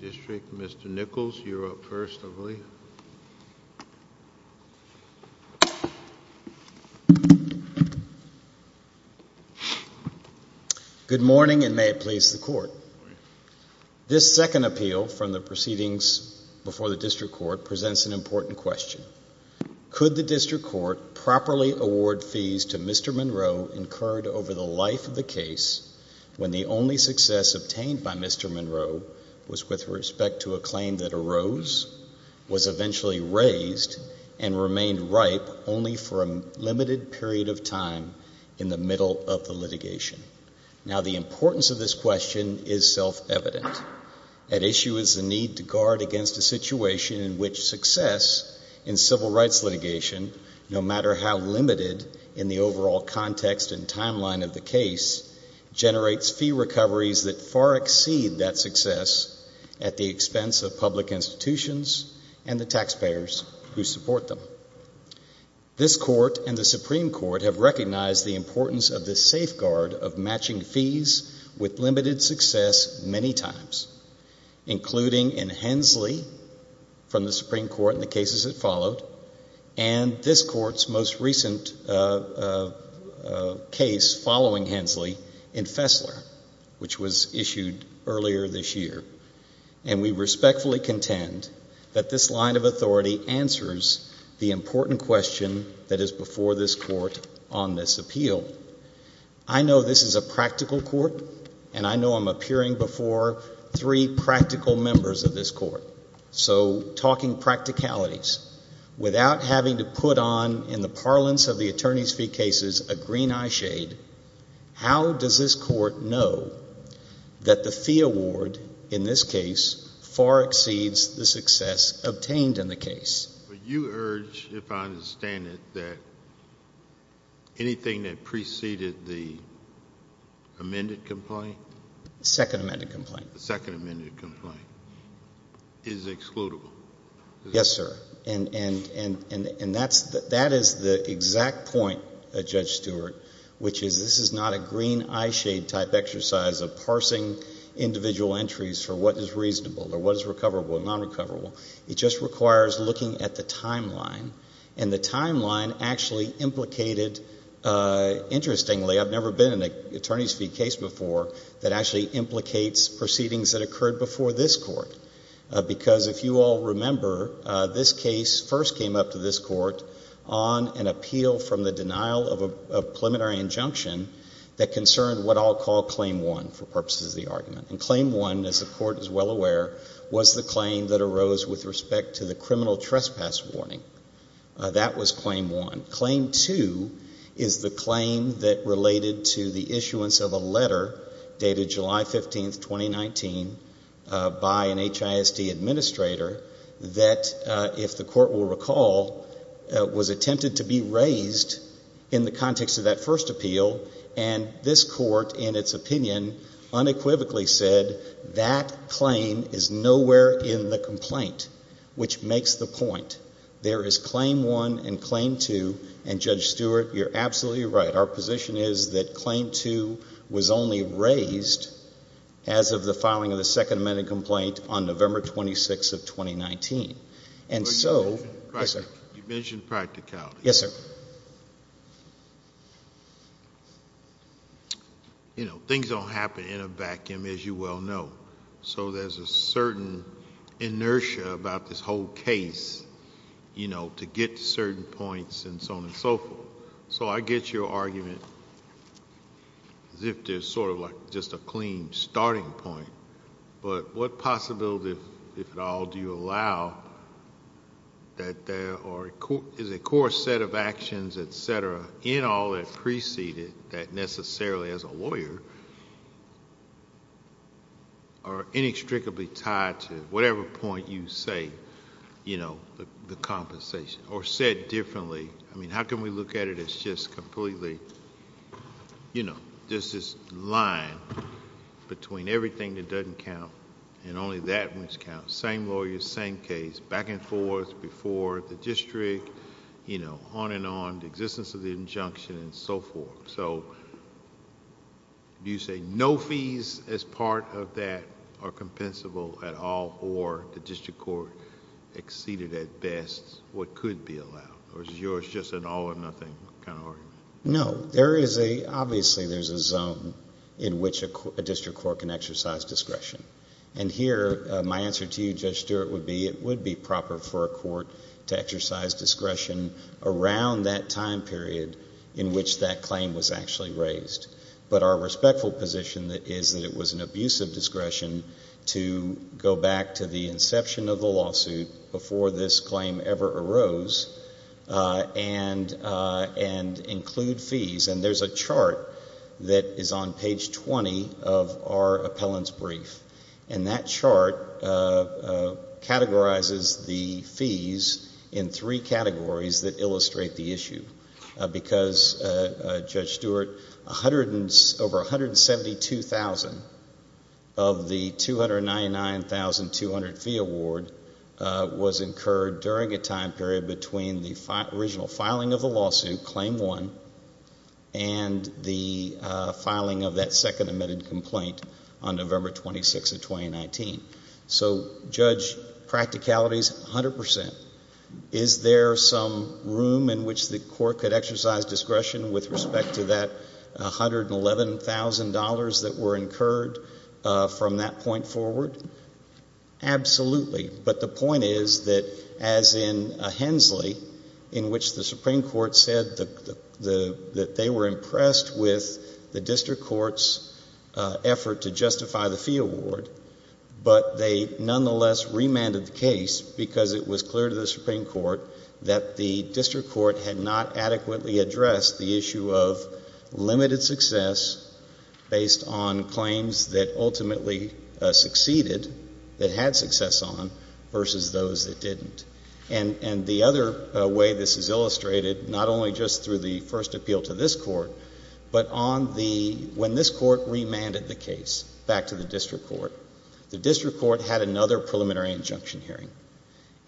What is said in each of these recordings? District, Mr. Nichols, you're up first, I believe. Good morning and may it please the Court. This second appeal from the proceedings before the District Court presents an important question. Could the District Court properly award fees to Mr. Monroe incurred over the life of the case when the only success obtained by Mr. Monroe was with respect to a claim that arose, was eventually raised, and remained ripe only for a limited period of time in the middle of the litigation? Now the importance of this question is self-evident. At issue is the need to guard against a situation in which success in civil rights litigation, no matter how limited in the overall context and timeline of the case, generates fee recoveries that far exceed that success at the expense of public institutions and the taxpayers who support them. This Court and the Supreme Court have recognized the importance of the safeguard of matching fees with limited success many times, including in Hensley from the Supreme Court in the cases that followed, and this Court's most recent case following Hensley in Fessler, which was issued earlier this year, and we respectfully contend that this line of authority answers the important question that is before this Court on this appeal. I know this is a practical Court, and I know I'm appearing before three practical members of this Court, so talking practicalities without having to put on, in the parlance of the attorney's fee cases, a green eye shade, how does this Court know that the fee award in this case far exceeds the success obtained in the case? You urge, if I understand it, that anything that preceded the amended complaint, the second amended complaint, is excludable. Yes, sir, and that is the exact point that Judge Stewart, which is this is not a green eye shade type exercise of parsing individual entries for what is reasonable or what is recoverable or non-recoverable. It just requires looking at the timeline, and the timeline actually implicated, interestingly, I've never been in an attorney's fee case before, that actually implicates proceedings that occurred before this Court, because if you all remember, this case first came up to this Court on an appeal from the denial of a preliminary injunction that concerned what I'll call Claim 1, for purposes of the argument. And Claim 1, as the Court is well aware, was the claim that arose with respect to the criminal trespass warning. That was Claim 1. Claim 2 is the claim that related to the issuance of a letter dated July 15, 2019 by an HISD administrator that, if the Court will recall, was attempted to be raised in the context of that first appeal, and this Court, in its opinion, unequivocally said that claim is nowhere in the complaint, which makes the point. There is Claim 1 and Claim 2, and Judge Stewart, you're absolutely right. Our position is that Claim 2 was only raised as of the filing of the Second Amendment complaint on November 26, 2019. And so... You mentioned practicality. You know, things don't happen in a vacuum, as you well know. So there's a certain inertia about this whole case, you know, to get to certain points and so on and so forth. So I get your argument as if there's sort of like just a clean starting point, but what possibility, if at all, do you allow that there is a core set of actions, et cetera, in all that preceded that necessarily, as a lawyer, are inextricably tied to whatever point you say, you know, the compensation, or said differently? I mean, how can we look at it as just completely, you know, there's this line between everything that doesn't count and only that which counts? Same lawyers, same case, back and forth before the district, you know, on and on, the existence of the injunction and so forth. So, you say no fees as part of that are compensable at all, or the district court exceeded at best what could be allowed, or is yours just an all or nothing kind of argument? No, there is a, obviously there's a zone in which a district court can exercise discretion. And here, my answer to you, Judge Stewart, would be it would be proper for a court to exercise discretion around that time period in which that claim was actually raised. But our respectful position is that it was an abuse of discretion to go back to the inception of the lawsuit before this claim ever arose and include fees. And there's a chart that is on page 20 of our appellant's brief. And that chart categorizes the fees in three categories that illustrate the issue. Because, Judge Stewart, over 172,000 of the 299,200 fee award was incurred during a time period between the original filing of the lawsuit, claim one, and the filing of that second admitted complaint on November 26 of 2019. So, Judge, practicalities, 100%. Is there some room in which the court could exercise discretion with respect to that $111,000 that were incurred from that point forward? Absolutely. But the point is that, as in Hensley, in which the Supreme Court said that they were impressed with the district court's effort to justify the fee award, but they nonetheless remanded the case because it was clear to the Supreme Court that the district court had not adequately addressed the issue of limited success based on claims that ultimately succeeded, that had success on, versus those that didn't. And the other way this is illustrated, not only just through the first appeal to this court, but on the, when this court remanded the case back to the district court, the district court had another preliminary injunction hearing.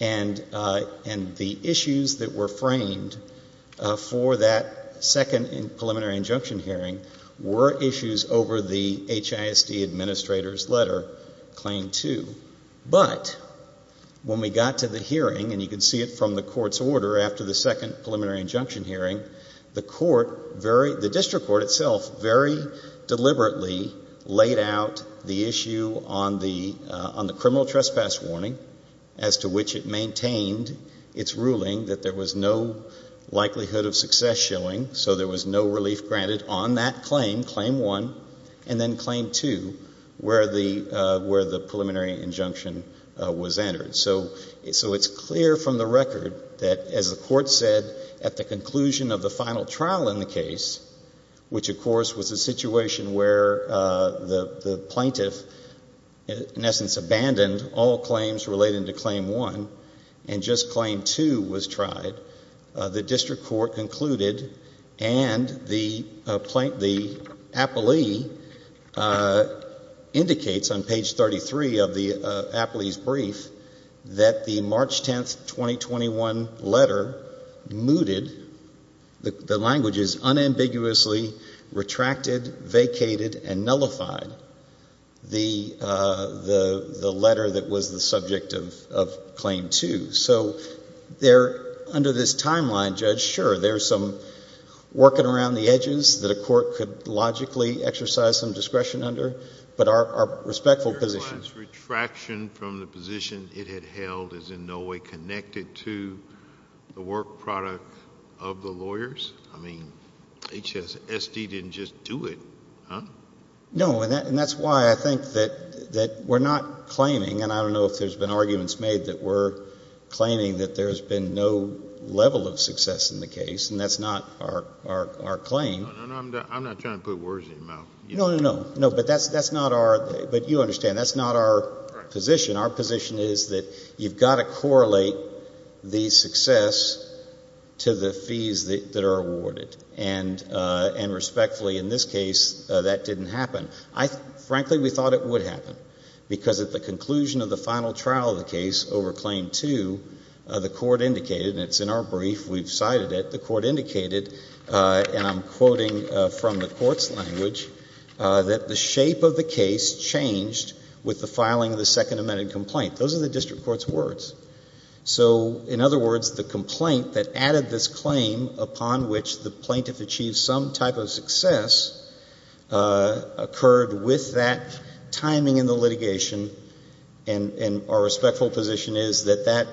And the issues that were framed for that second preliminary injunction hearing were issues over the HISD Administrator's Letter Claim 2. But when we got to the hearing, and you can see it from the court's order after the second preliminary injunction hearing, the court, the district court itself very deliberately laid out the issue on the Criminal Trespass Warning as to which it maintained its ruling, that there was no relief granted on that claim, Claim 1, and then Claim 2, where the preliminary injunction was entered. So it's clear from the record that, as the court said, at the conclusion of the final trial in the case, which of course was a situation where the plaintiff in essence abandoned all claims relating to Claim 1, and just Claim 2 was tried, the district court concluded and the appellee indicates on page 33 of the appellee's brief that the March 10, 2021 letter mooted, the language is unambiguously retracted, vacated, and nullified the letter that was the subject of Claim 2. So under this timeline, Judge, sure, there's some working around the edges that a court could logically exercise some discretion under, but our respectful position... The retraction from the position it had held is in no way connected to the work product of the lawyers? I mean, HSD didn't just do it, huh? No, and that's why I think that we're not claiming, and I don't know if there's been arguments made that we're claiming that there's been no level of success in the case, and that's not our claim. No, no, no, I'm not trying to put words in your mouth. No, no, no, no, but that's not our, but you understand, that's not our position. Our position is that you've got to correlate the success to the fees that are awarded, and respectfully in this case, that didn't happen. Frankly, we thought it would happen, because at the conclusion of the final trial of the case, over claim two, the court indicated, and it's in our brief, we've cited it, the court indicated, and I'm quoting from the court's language, that the shape of the case changed with the filing of the second amended complaint. Those are the district court's words. So, in other words, the complaint that added this claim upon which the plaintiff achieved some type of success occurred with that final litigation, and our respectful position is that that,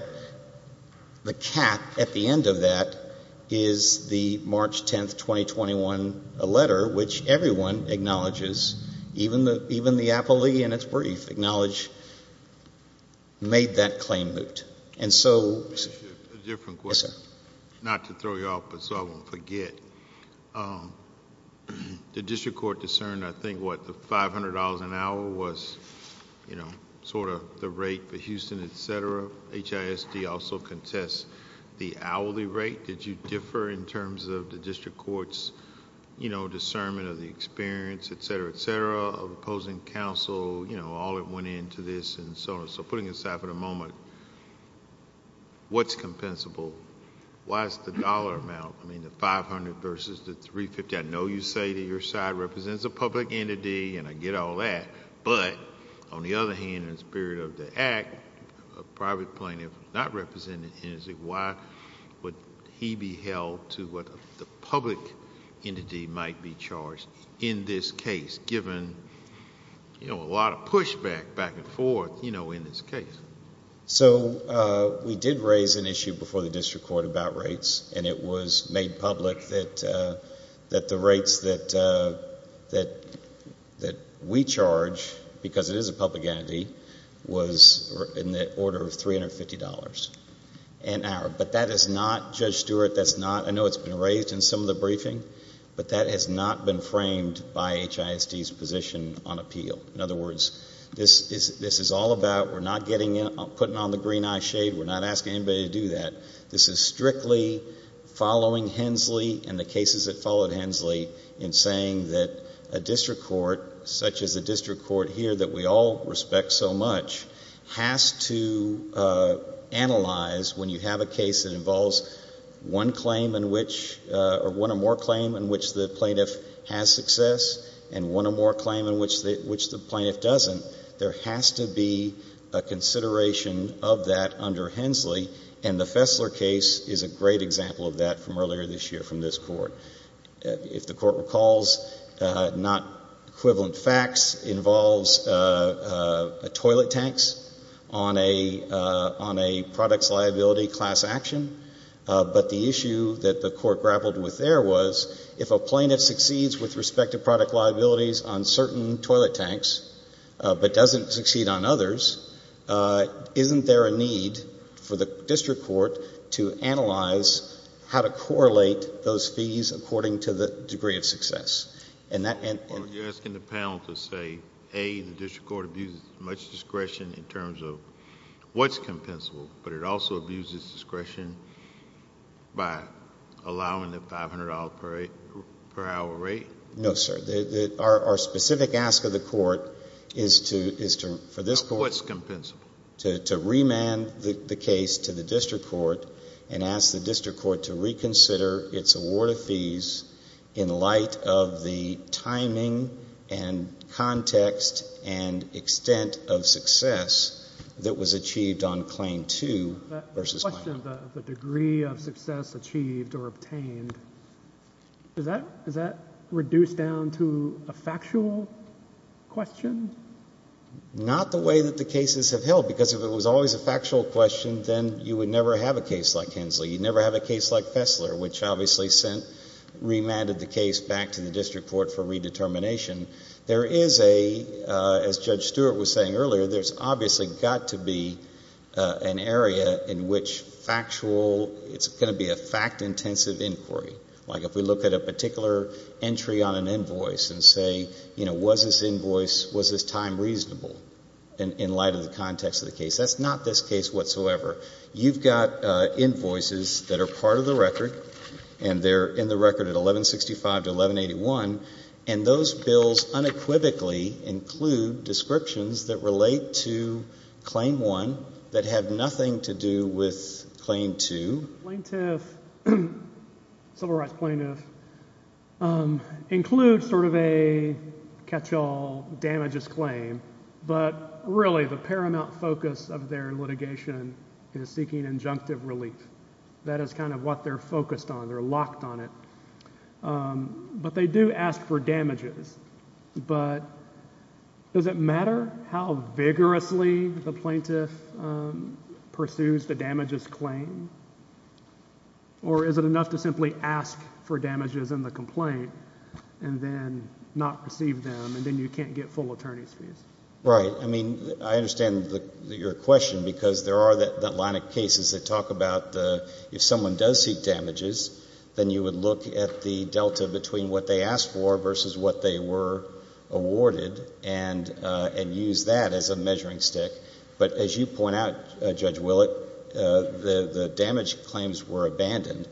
the cap at the end of that is the March 10th, 2021 letter, which everyone acknowledges, even the appellee in its brief acknowledged, made that claim moot. And so... A different question, not to throw you off, but so I won't forget. The district court discerned, I think, what, the $500 an hour was sort of the rate for Houston, et cetera. HISD also contests the hourly rate. Did you differ in terms of the district court's discernment of the experience, et cetera, et cetera, of opposing counsel, all that went into this, and so on. So putting aside for the moment, what's compensable? Why is the dollar amount, I mean, the $500 versus the $350, I know you say to your side represents a public entity, and I get all that, but on the other hand, in the spirit of the Act, a private plaintiff not represented, why would he be held to what the public entity might be charged in this case, given, you know, a lot of pushback back and forth, you know, in this case? So we did raise an issue before the district court about rates, and it was made public that the rates that we charge, because it is a public entity, was in the order of $350 an hour, but that is not, Judge Stewart, that's not, I know it's been raised in some of the briefing, but that has not been framed by HISD's position on appeal. In other words, this is all about, we're not putting on the green eye shade, we're not asking anybody to do that, this is strictly following Hensley and the cases that followed Hensley in saying that a district court, such as the district court here that we all respect so much, has to analyze when you have a case that involves one claim in which, or one or more claim in which the plaintiff has success, and one or more claim in which the plaintiff doesn't, there has to be a consideration of that under Hensley, and the Fessler case is a great example of that from earlier this year from this court. If the court recalls, not equivalent facts involves a toilet tax on a product's liability class action, but the issue that the court grappled with there was, if a doesn't succeed on others, isn't there a need for the district court to analyze how to correlate those fees according to the degree of success? And that... You're asking the panel to say, A, the district court abuses much discretion in terms of what's compensable, but it also abuses discretion by allowing the $500 per hour rate? No sir. Our specific ask of the court is to, for this court... What's compensable? To remand the case to the district court and ask the district court to reconsider its award of fees in light of the timing and context and extent of success that was achieved on claim two versus claim one. The question of the degree of success achieved or obtained, does that reduce down to a factual question? Not the way that the cases have held, because if it was always a factual question, then you would never have a case like Hensley. You'd never have a case like Fessler, which obviously sent, remanded the case back to the district court for redetermination. There is a, as Judge Stewart was saying earlier, there's obviously got to be an area in which factual, it's going to be a fact-intensive inquiry. Like if we look at a particular entry on an invoice and say, you know, was this invoice, was this time reasonable in light of the context of the case? That's not this case whatsoever. You've got invoices that are part of the record, and they're in the record at 1165 to 1181, and those bills unequivocally include descriptions that relate to claim one that have nothing to do with claim two. Plaintiff, civil rights plaintiff, includes sort of a catch-all damages claim, but really the paramount focus of their litigation is seeking injunctive relief. That is kind of what they're focused on. They're locked on it. But they do ask for damages, but does it matter how vigorously the plaintiff pursues the damages claim, or is it enough to simply ask for damages in the complaint and then not receive them, and then you can't get full attorney's fees? Right. I mean, I understand your question, because there are that line of cases that talk about if someone does seek damages, then you would look at the delta between what they asked for versus what they were awarded and use that as a measuring stick. But as you point out, Judge Willett, the damage claims were abandoned.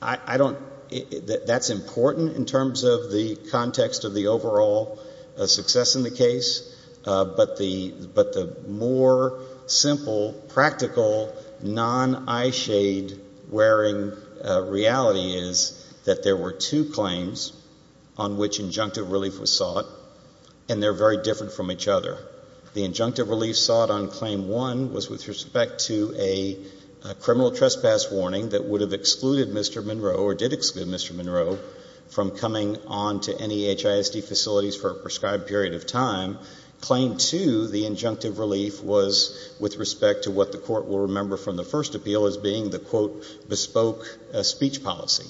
That's important in terms of the context of the overall success in the case, but the more simple, practical, non-eye-shade-wearing reality is that there were two claims on which injunctive relief was sought, and they're very different from each other. The injunctive relief sought on claim one was with respect to a criminal trespass warning that would have excluded Mr. Monroe, or did exclude Mr. Monroe, from coming on to any HISD facilities for a prescribed period of time. Claim two, the injunctive relief was with respect to what the Court will remember from the first appeal as being the, quote, bespoke speech policy,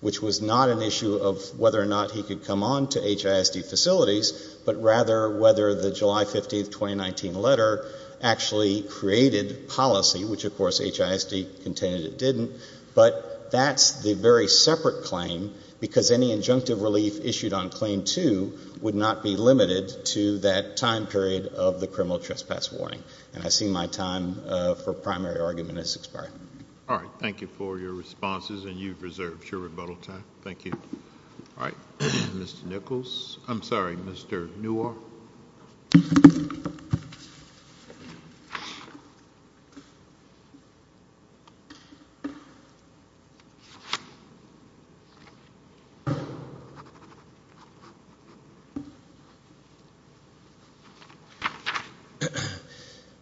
which was not an issue of whether or not he could come on to HISD facilities, but rather whether the July 15, 2019 letter actually created policy, which, of course, HISD contended it didn't. But that's the very separate claim, because any injunctive relief issued on claim two would not be limited to that time period of the criminal trespass warning. And I see my time for primary argument has expired. All right, thank you for your responses, and you've reserved your rebuttal time. Thank you. All right, Mr. Nichols. I'm sorry, Mr. Newar.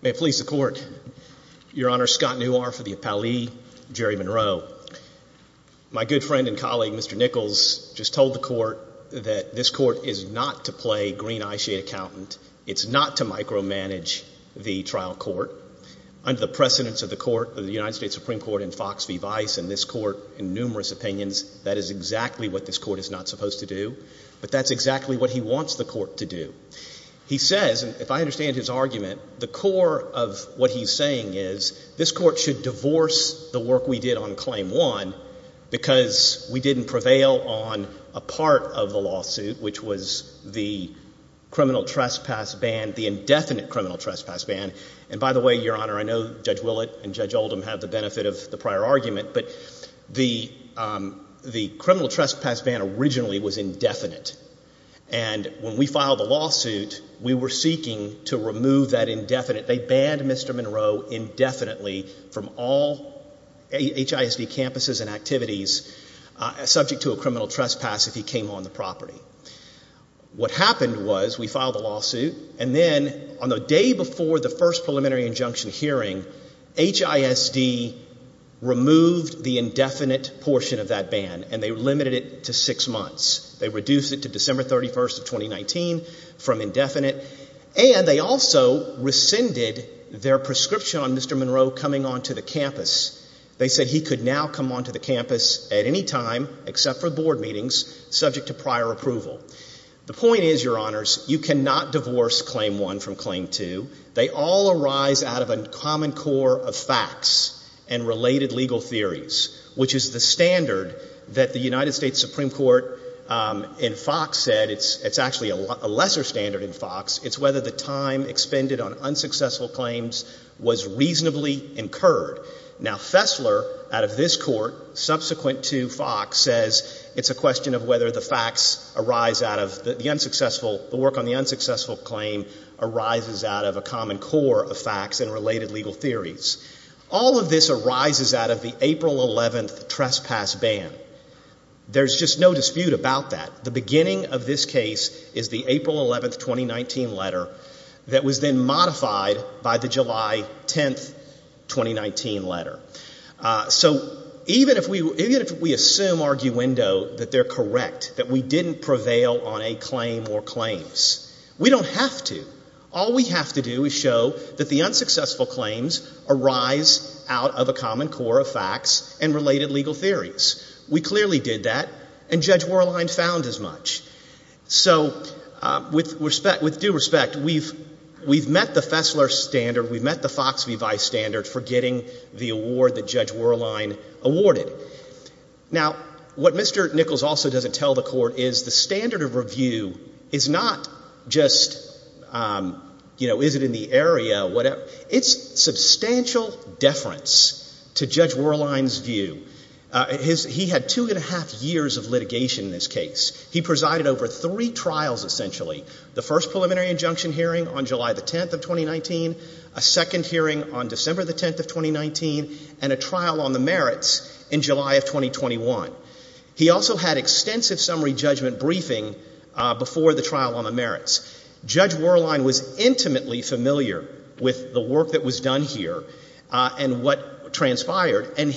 May it please the Court. Your Honor, Scott Newar for the appellee, Jerry Monroe. My good friend and colleague, Mr. Nichols, just told the Court that this Court is not to play green eyeshade accountant. It's not to micromanage the trial court. Under the precedence of the Court, of the United States Supreme Court in Fox v. Vice and this Court in numerous opinions, that is exactly what this Court is not supposed to do. But that's exactly what he wants the Court to do. He says, and if I understand his argument, the core of what he's saying is this Court should divorce the work we did on claim one because we didn't prevail on a part of the lawsuit, which was the criminal trespass ban, the indefinite criminal trespass ban. And by the way, Your Honor, I know Judge Willett and Judge Oldham have the benefit of the prior argument, but the criminal trespass ban originally was indefinite. And when we filed a lawsuit, we were seeking to remove that indefinite. They banned Mr. Monroe indefinitely from all HISD campuses and activities subject to a criminal trespass if he came on the property. What happened was we filed a lawsuit, and then on the day before the first preliminary injunction hearing, HISD removed the indefinite portion of that ban, and they limited it to six months. They reduced it to December 31st of 2019 from indefinite, and they also rescinded their prescription on Mr. Monroe coming onto the campus. They said he could now come onto the campus at any time except for board meetings subject to prior approval. The point is, Your Honors, you cannot divorce claim one from claim two. They all arise out of a common core of facts and related legal theories, which is the standard that the United States Supreme Court in Fox said. It's actually a lesser standard in Fox. It's whether the time expended on unsuccessful claims was reasonably incurred. Now Fessler, out of this Court, subsequent to Fox, says it's a question of whether the facts arise out of the work on the unsuccessful claim arises out of a common core of facts and related legal theories. All of this arises out of the April 11th trespass ban. There's just no dispute about that. The beginning of this case is the April 11th, 2019 letter that was then modified by the July 10th, 2019 letter. So even if we assume arguendo that they're correct, that we didn't prevail on a claim or claims, we don't have to. All we have to do is show that the unsuccessful claims arise out of a common core of facts and related legal theories. We clearly did that, and Judge Warline found as much. So with respect, with due respect, we've met the Fessler standard, we've met the Fox v. standard for getting the award that Judge Warline awarded. Now what Mr. Nichols also doesn't tell the Court is the standard of review is not just, you know, is it in the area, whatever. It's substantial deference to Judge Warline's view. He had two and a half years of litigation in this case. He presided over three trials, essentially, the first preliminary injunction hearing on December the 10th of 2019, and a trial on the merits in July of 2021. He also had extensive summary judgment briefing before the trial on the merits. Judge Warline was intimately familiar with the work that was done here and what transpired, and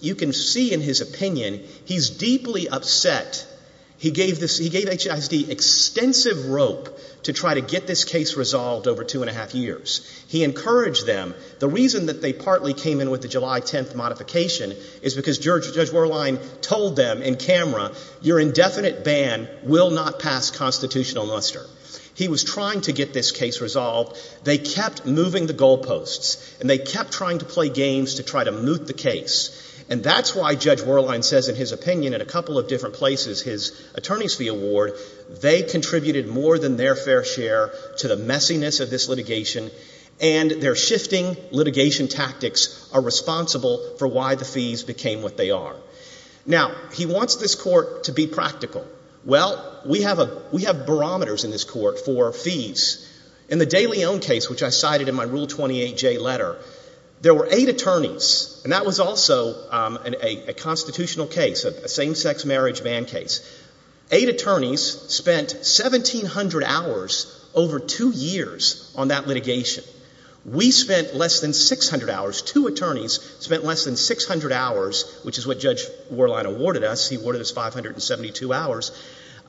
you can see in his opinion, he's deeply upset. He gave HISD extensive rope to try to get this case resolved over two and a half years. He encouraged them. The reason that they partly came in with the July 10th modification is because Judge Warline told them in camera, your indefinite ban will not pass constitutional muster. He was trying to get this case resolved. They kept moving the goalposts, and they kept trying to play games to try to moot the case. And that's why Judge Warline says in his opinion in a couple of different places, his attorney's more than their fair share to the messiness of this litigation, and their shifting litigation tactics are responsible for why the fees became what they are. Now, he wants this court to be practical. Well, we have barometers in this court for fees. In the De Leon case, which I cited in my Rule 28J letter, there were eight attorneys, and that was also a constitutional case, a same-sex marriage ban case. Eight attorneys spent 1,700 hours over two years on that litigation. We spent less than 600 hours, two attorneys spent less than 600 hours, which is what Judge Warline awarded us, he awarded us 572 hours,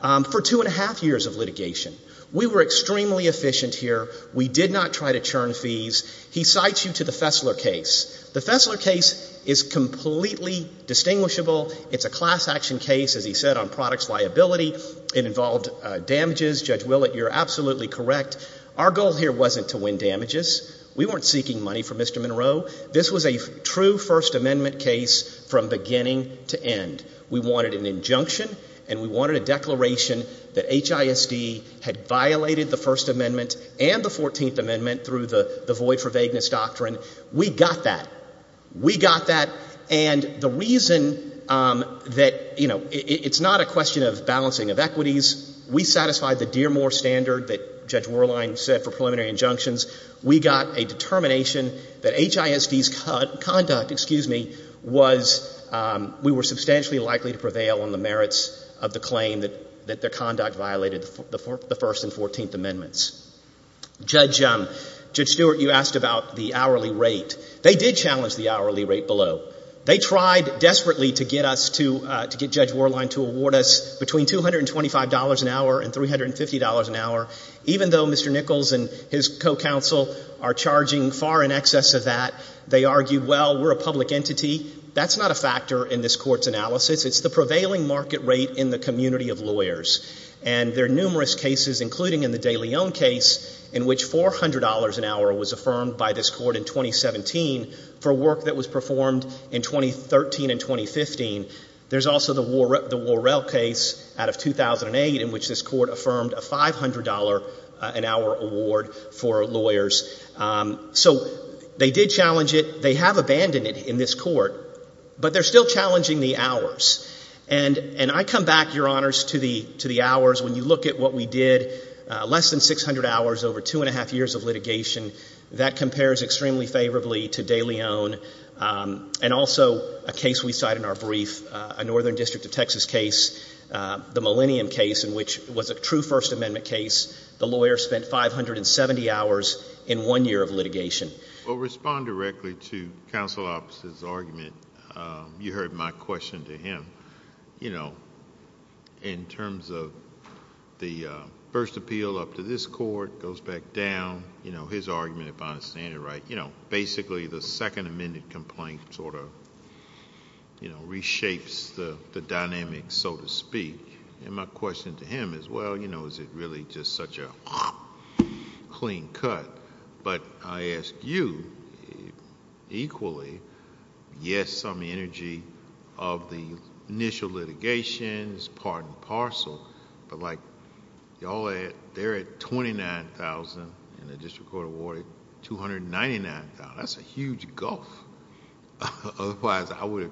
for two and a half years of litigation. We were extremely efficient here. We did not try to churn fees. He cites you to the Fessler case. The Fessler case is completely distinguishable. It's a class action case, as he said, on products liability. It involved damages. Judge Willett, you're absolutely correct. Our goal here wasn't to win damages. We weren't seeking money from Mr. Monroe. This was a true First Amendment case from beginning to end. We wanted an injunction, and we wanted a declaration that HISD had violated the First Amendment and the Fourteenth Amendment through the Void for Vagueness doctrine. We got that. We got that. And the reason that, you know, it's not a question of balancing of equities. We satisfied the Dearmore standard that Judge Warline set for preliminary injunctions. We got a determination that HISD's conduct, excuse me, was, we were substantially likely to prevail on the merits of the claim that their conduct violated the First and Fourteenth Amendments. Judge Stewart, you asked about the hourly rate. They did challenge the hourly rate below. They tried desperately to get us to, to get Judge Warline to award us between $225 an hour and $350 an hour, even though Mr. Nichols and his co-counsel are charging far in excess of that. They argued, well, we're a public entity. That's not a factor in this Court's analysis. It's the prevailing market rate in the community of lawyers. And there are numerous cases, including in the De Leon case, in which $400 an hour was awarded in 2017 for work that was performed in 2013 and 2015. There's also the Worrell case out of 2008 in which this Court affirmed a $500 an hour award for lawyers. So they did challenge it. They have abandoned it in this Court. But they're still challenging the hours. And I come back, Your Honors, to the hours. When you look at what we did, less than 600 hours over two and a half years of litigation, that compares extremely favorably to De Leon. And also, a case we cite in our brief, a Northern District of Texas case, the Millennium case, in which it was a true First Amendment case. The lawyer spent 570 hours in one year of litigation. Well, respond directly to Counsel Opps' argument. You heard my question to him. You know, in terms of the first appeal up to this Court, goes back down. You know, his argument, if I understand it right, you know, basically, the Second Amendment complaint sort of, you know, reshapes the dynamic, so to speak. And my question to him is, well, you know, is it really just such a clean cut? But I ask you, equally, yes, some energy of the initial litigation is part and parcel. But like you all add, they're at $29,000 and the District Court awarded $299,000. That's a huge gulf. Otherwise, I would have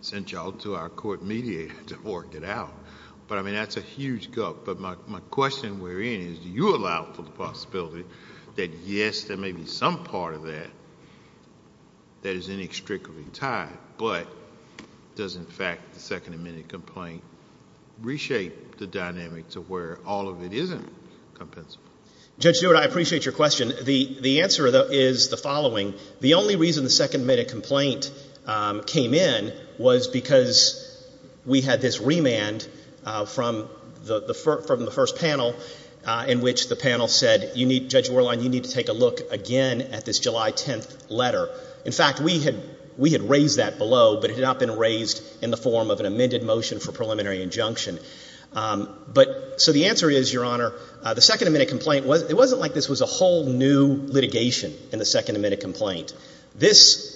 sent you all to our court mediator to work it out. But I mean, that's a huge gulf. But my question we're in is, do you allow for the possibility that, yes, there may be some part of that that is inextricably tied, but does, in fact, the Second Amendment complaint reshape the dynamic to where all of it isn't compensable? Judge Stewart, I appreciate your question. The answer, though, is the following. The only reason the Second Amendment complaint came in was because we had this remand from the first panel in which the panel said, you need, Judge Werlein, you need to take a look again at this July 10th letter. In fact, we had raised that below, but it had not been raised in the form of an amended motion for preliminary injunction. But so the answer is, Your Honor, the Second Amendment complaint, it wasn't like this was a whole new litigation in the Second Amendment complaint. This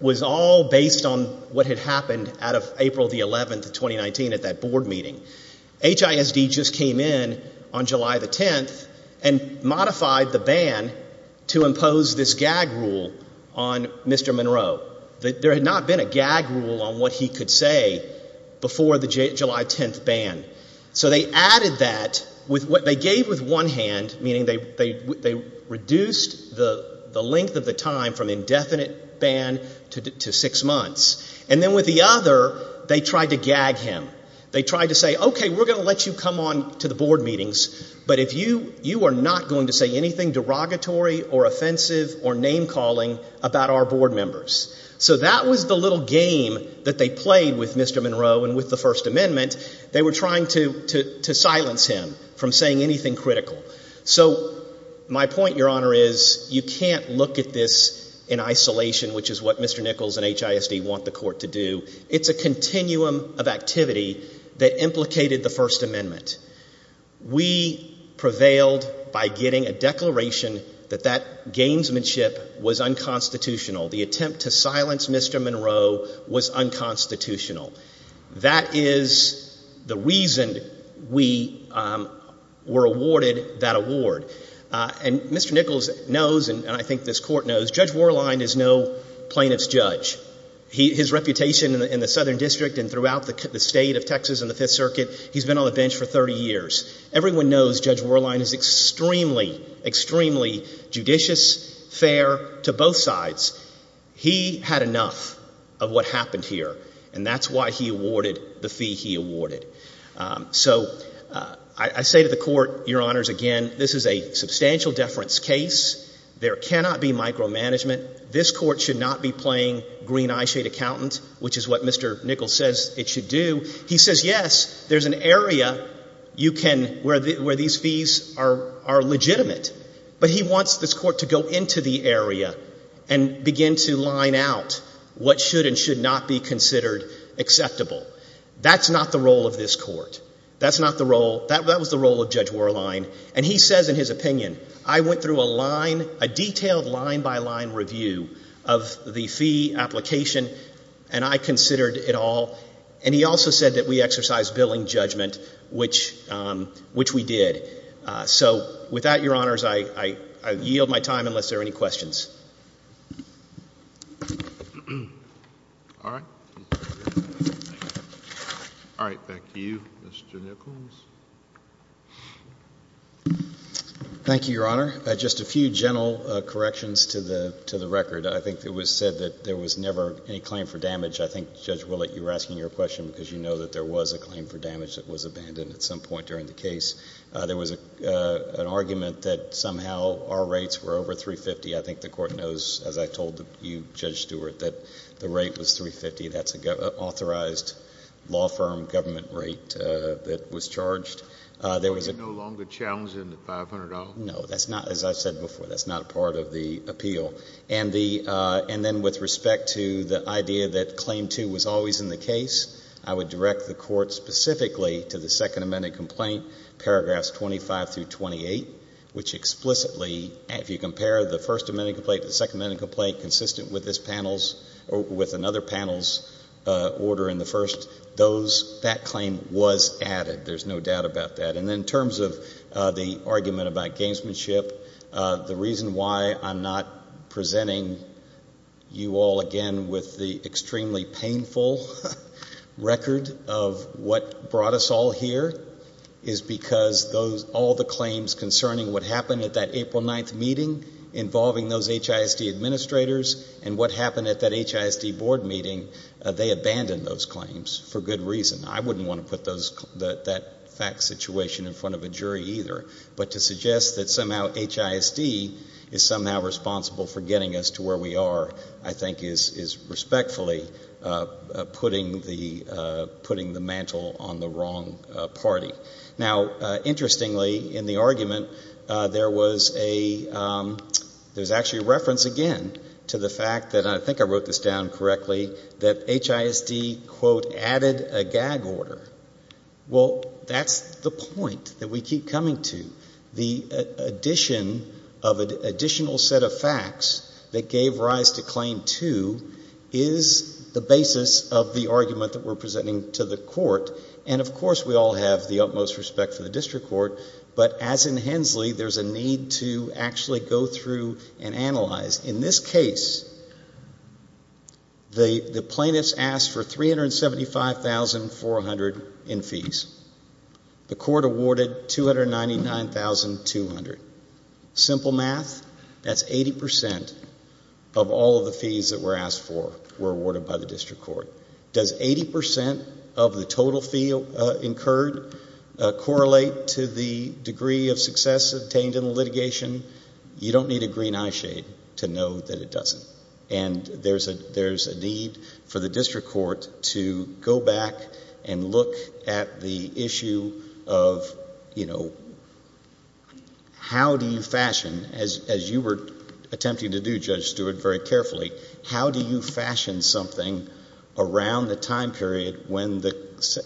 was all based on what had happened out of April the 11th of 2019 at that board meeting. HISD just came in on July the 10th and modified the ban to impose this gag rule on Mr. Monroe. There had not been a gag rule on what he could say before the July 10th ban. So they added that with what they gave with one hand, meaning they reduced the length of the time from indefinite ban to six months. And then with the other, they tried to gag him. They tried to say, okay, we're going to let you come on to the board meetings, but you are not going to say anything derogatory or offensive or name-calling about our board members. So that was the little game that they played with Mr. Monroe and with the First Amendment. They were trying to silence him from saying anything critical. So my point, Your Honor, is you can't look at this in isolation, which is what Mr. Nichols and HISD want the court to do. It's a continuum of activity that implicated the First Amendment. We prevailed by getting a declaration that that gamesmanship was unconstitutional. The attempt to silence Mr. Monroe was unconstitutional. That is the reason we were awarded that award. And Mr. Nichols knows, and I think this Court knows, Judge Warline is no plaintiff's judge. His reputation in the Southern District and throughout the state of Texas and the Fifth Everyone knows Judge Warline is extremely, extremely judicious, fair to both sides. He had enough of what happened here, and that's why he awarded the fee he awarded. So I say to the Court, Your Honors, again, this is a substantial deference case. There cannot be micromanagement. This Court should not be playing green eyeshade accountant, which is what Mr. Nichols says it should do. He says, yes, there's an area where these fees are legitimate. But he wants this Court to go into the area and begin to line out what should and should not be considered acceptable. That's not the role of this Court. That's not the role. That was the role of Judge Warline. And he says in his opinion, I went through a line, a detailed line-by-line review of the fee application, and I considered it all. And he also said that we exercised billing judgment, which we did. So with that, Your Honors, I yield my time, unless there are any questions. All right, back to you, Mr. Nichols. Thank you, Your Honor. Just a few gentle corrections to the record. I think it was said that there was never any claim for damage. I think, Judge Willett, you were asking your question because you know that there was a claim for damage that was abandoned at some point during the case. There was an argument that somehow our rates were over $350,000. I think the Court knows, as I told you, Judge Stewart, that the rate was $350,000. That's an authorized law firm government rate that was charged. Are we no longer challenging the $500,000? No. That's not, as I said before, that's not a part of the appeal. And then with respect to the idea that Claim 2 was always in the case, I would direct the Court specifically to the Second Amendment complaint, paragraphs 25 through 28, which explicitly, if you compare the First Amendment complaint to the Second Amendment complaint consistent with this panel's, or with another panel's order in the first, that claim was added. There's no doubt about that. And in terms of the argument about gamesmanship, the reason why I'm not presenting you all again with the extremely painful record of what brought us all here is because all the claims concerning what happened at that April 9th meeting involving those HISD administrators and what happened at that HISD board meeting, they abandoned those claims for good reason. I wouldn't want to put those, that fact situation in front of a jury either. But to suggest that somehow HISD is somehow responsible for getting us to where we are, I think is respectfully putting the, putting the mantle on the wrong party. Now interestingly, in the argument, there was a, there's actually a reference again to the fact that, I think I wrote this down correctly, that HISD, quote, added a gag order. Well, that's the point that we keep coming to. The addition of an additional set of facts that gave rise to Claim 2 is the basis of the argument that we're presenting to the Court, and of course we all have the utmost respect for the District Court, but as in Hensley, there's a need to actually go through and analyze. In this case, the plaintiffs asked for $375,400 in fees. The Court awarded $299,200. Simple math, that's 80% of all of the fees that were asked for were awarded by the District Court. Does 80% of the total fee incurred correlate to the degree of success obtained in the litigation? You don't need a green eye shade to know that it doesn't, and there's a, there's a need for the District Court to go back and look at the issue of, you know, how do you fashion, as you were attempting to do, Judge Stewart, very carefully, how do you fashion something around the time period when the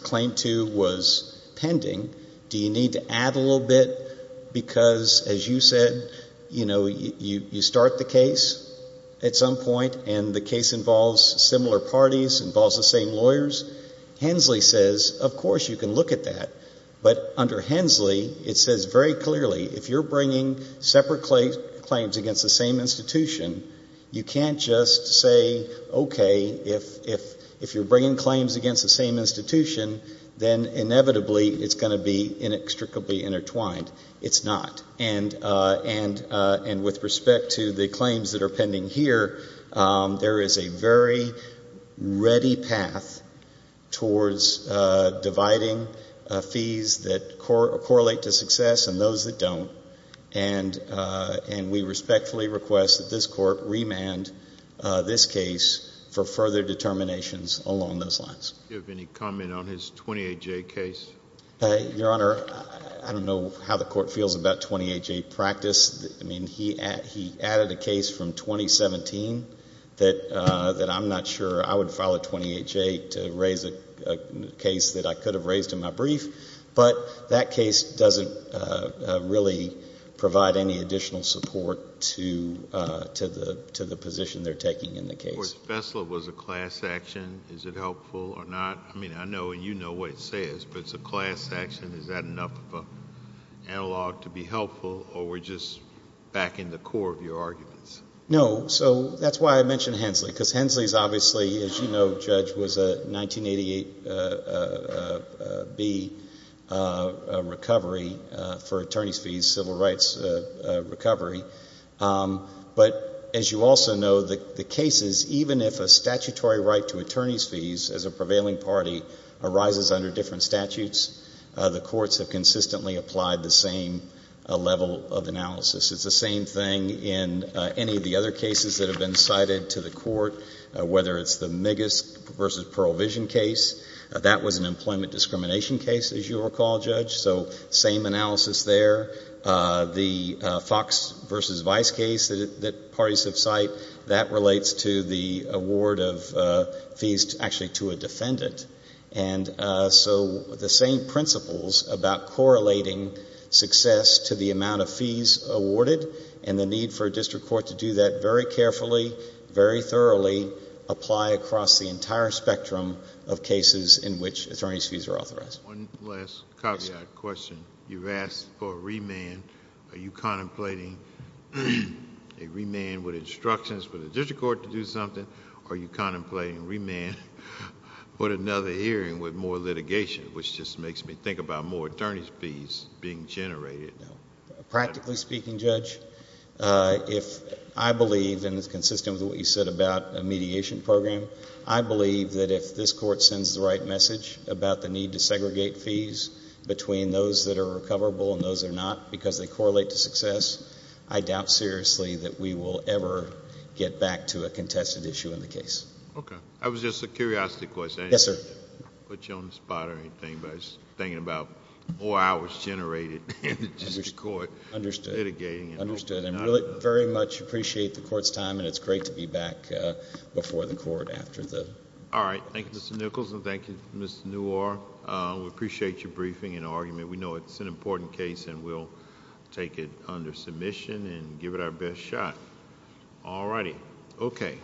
Claim 2 was pending? Do you need to add a little bit because, as you said, you know, you start the case at some point and the case involves similar parties, involves the same lawyers? Hensley says, of course you can look at that, but under Hensley, it says very clearly, if you're bringing separate claims against the same institution, you can't just say, okay, if you're bringing claims against the same institution, then inevitably it's going to be inextricably intertwined. It's not. And with respect to the claims that are pending here, there is a very ready path towards dividing fees that correlate to success and those that don't, and we respectfully request that this Court make further determinations along those lines. Do you have any comment on his 28J case? Your Honor, I don't know how the Court feels about 28J practice. I mean, he added a case from 2017 that I'm not sure I would file a 28J to raise a case that I could have raised in my brief, but that case doesn't really provide any additional support to the position they're taking in the case. So, of course, Fessler was a class action. Is it helpful or not? I mean, I know, and you know what it says, but it's a class action. Is that enough of an analog to be helpful, or we're just back in the core of your arguments? No. So that's why I mentioned Hensley, because Hensley's obviously, as you know, Judge, was a 1988B recovery for attorneys' fees, civil rights recovery. But, as you also know, the cases, even if a statutory right to attorneys' fees as a prevailing party arises under different statutes, the courts have consistently applied the same level of analysis. It's the same thing in any of the other cases that have been cited to the Court, whether it's the Migas v. Pearl Vision case. That was an employment discrimination case, as you recall, Judge, so same analysis there. The Fox v. Vice case that parties have cited, that relates to the award of fees actually to a defendant. And so the same principles about correlating success to the amount of fees awarded and the need for a district court to do that very carefully, very thoroughly, apply across the entire spectrum of cases in which attorneys' fees are authorized. One last copyright question. You've asked for a remand. Are you contemplating a remand with instructions for the district court to do something, or are you contemplating a remand for another hearing with more litigation, which just makes me think about more attorneys' fees being generated? Practically speaking, Judge, if I believe, and it's consistent with what you said about a mediation program, I believe that if this Court sends the right message about the need to segregate fees between those that are recoverable and those that are not because they correlate to success, I doubt seriously that we will ever get back to a contested issue in the case. Okay. I was just a curiosity question. Yes, sir. I didn't want to put you on the spot or anything, but I was thinking about more hours generated in the district court litigating it. Understood. And I very much appreciate the Court's time, and it's great to be back before the Court after the— All right. Thank you, Mr. Nichols, and thank you, Ms. Newar. We appreciate your briefing and argument. We know it's an important case, and we'll take it under submission and give it our best shot. All righty. Okay.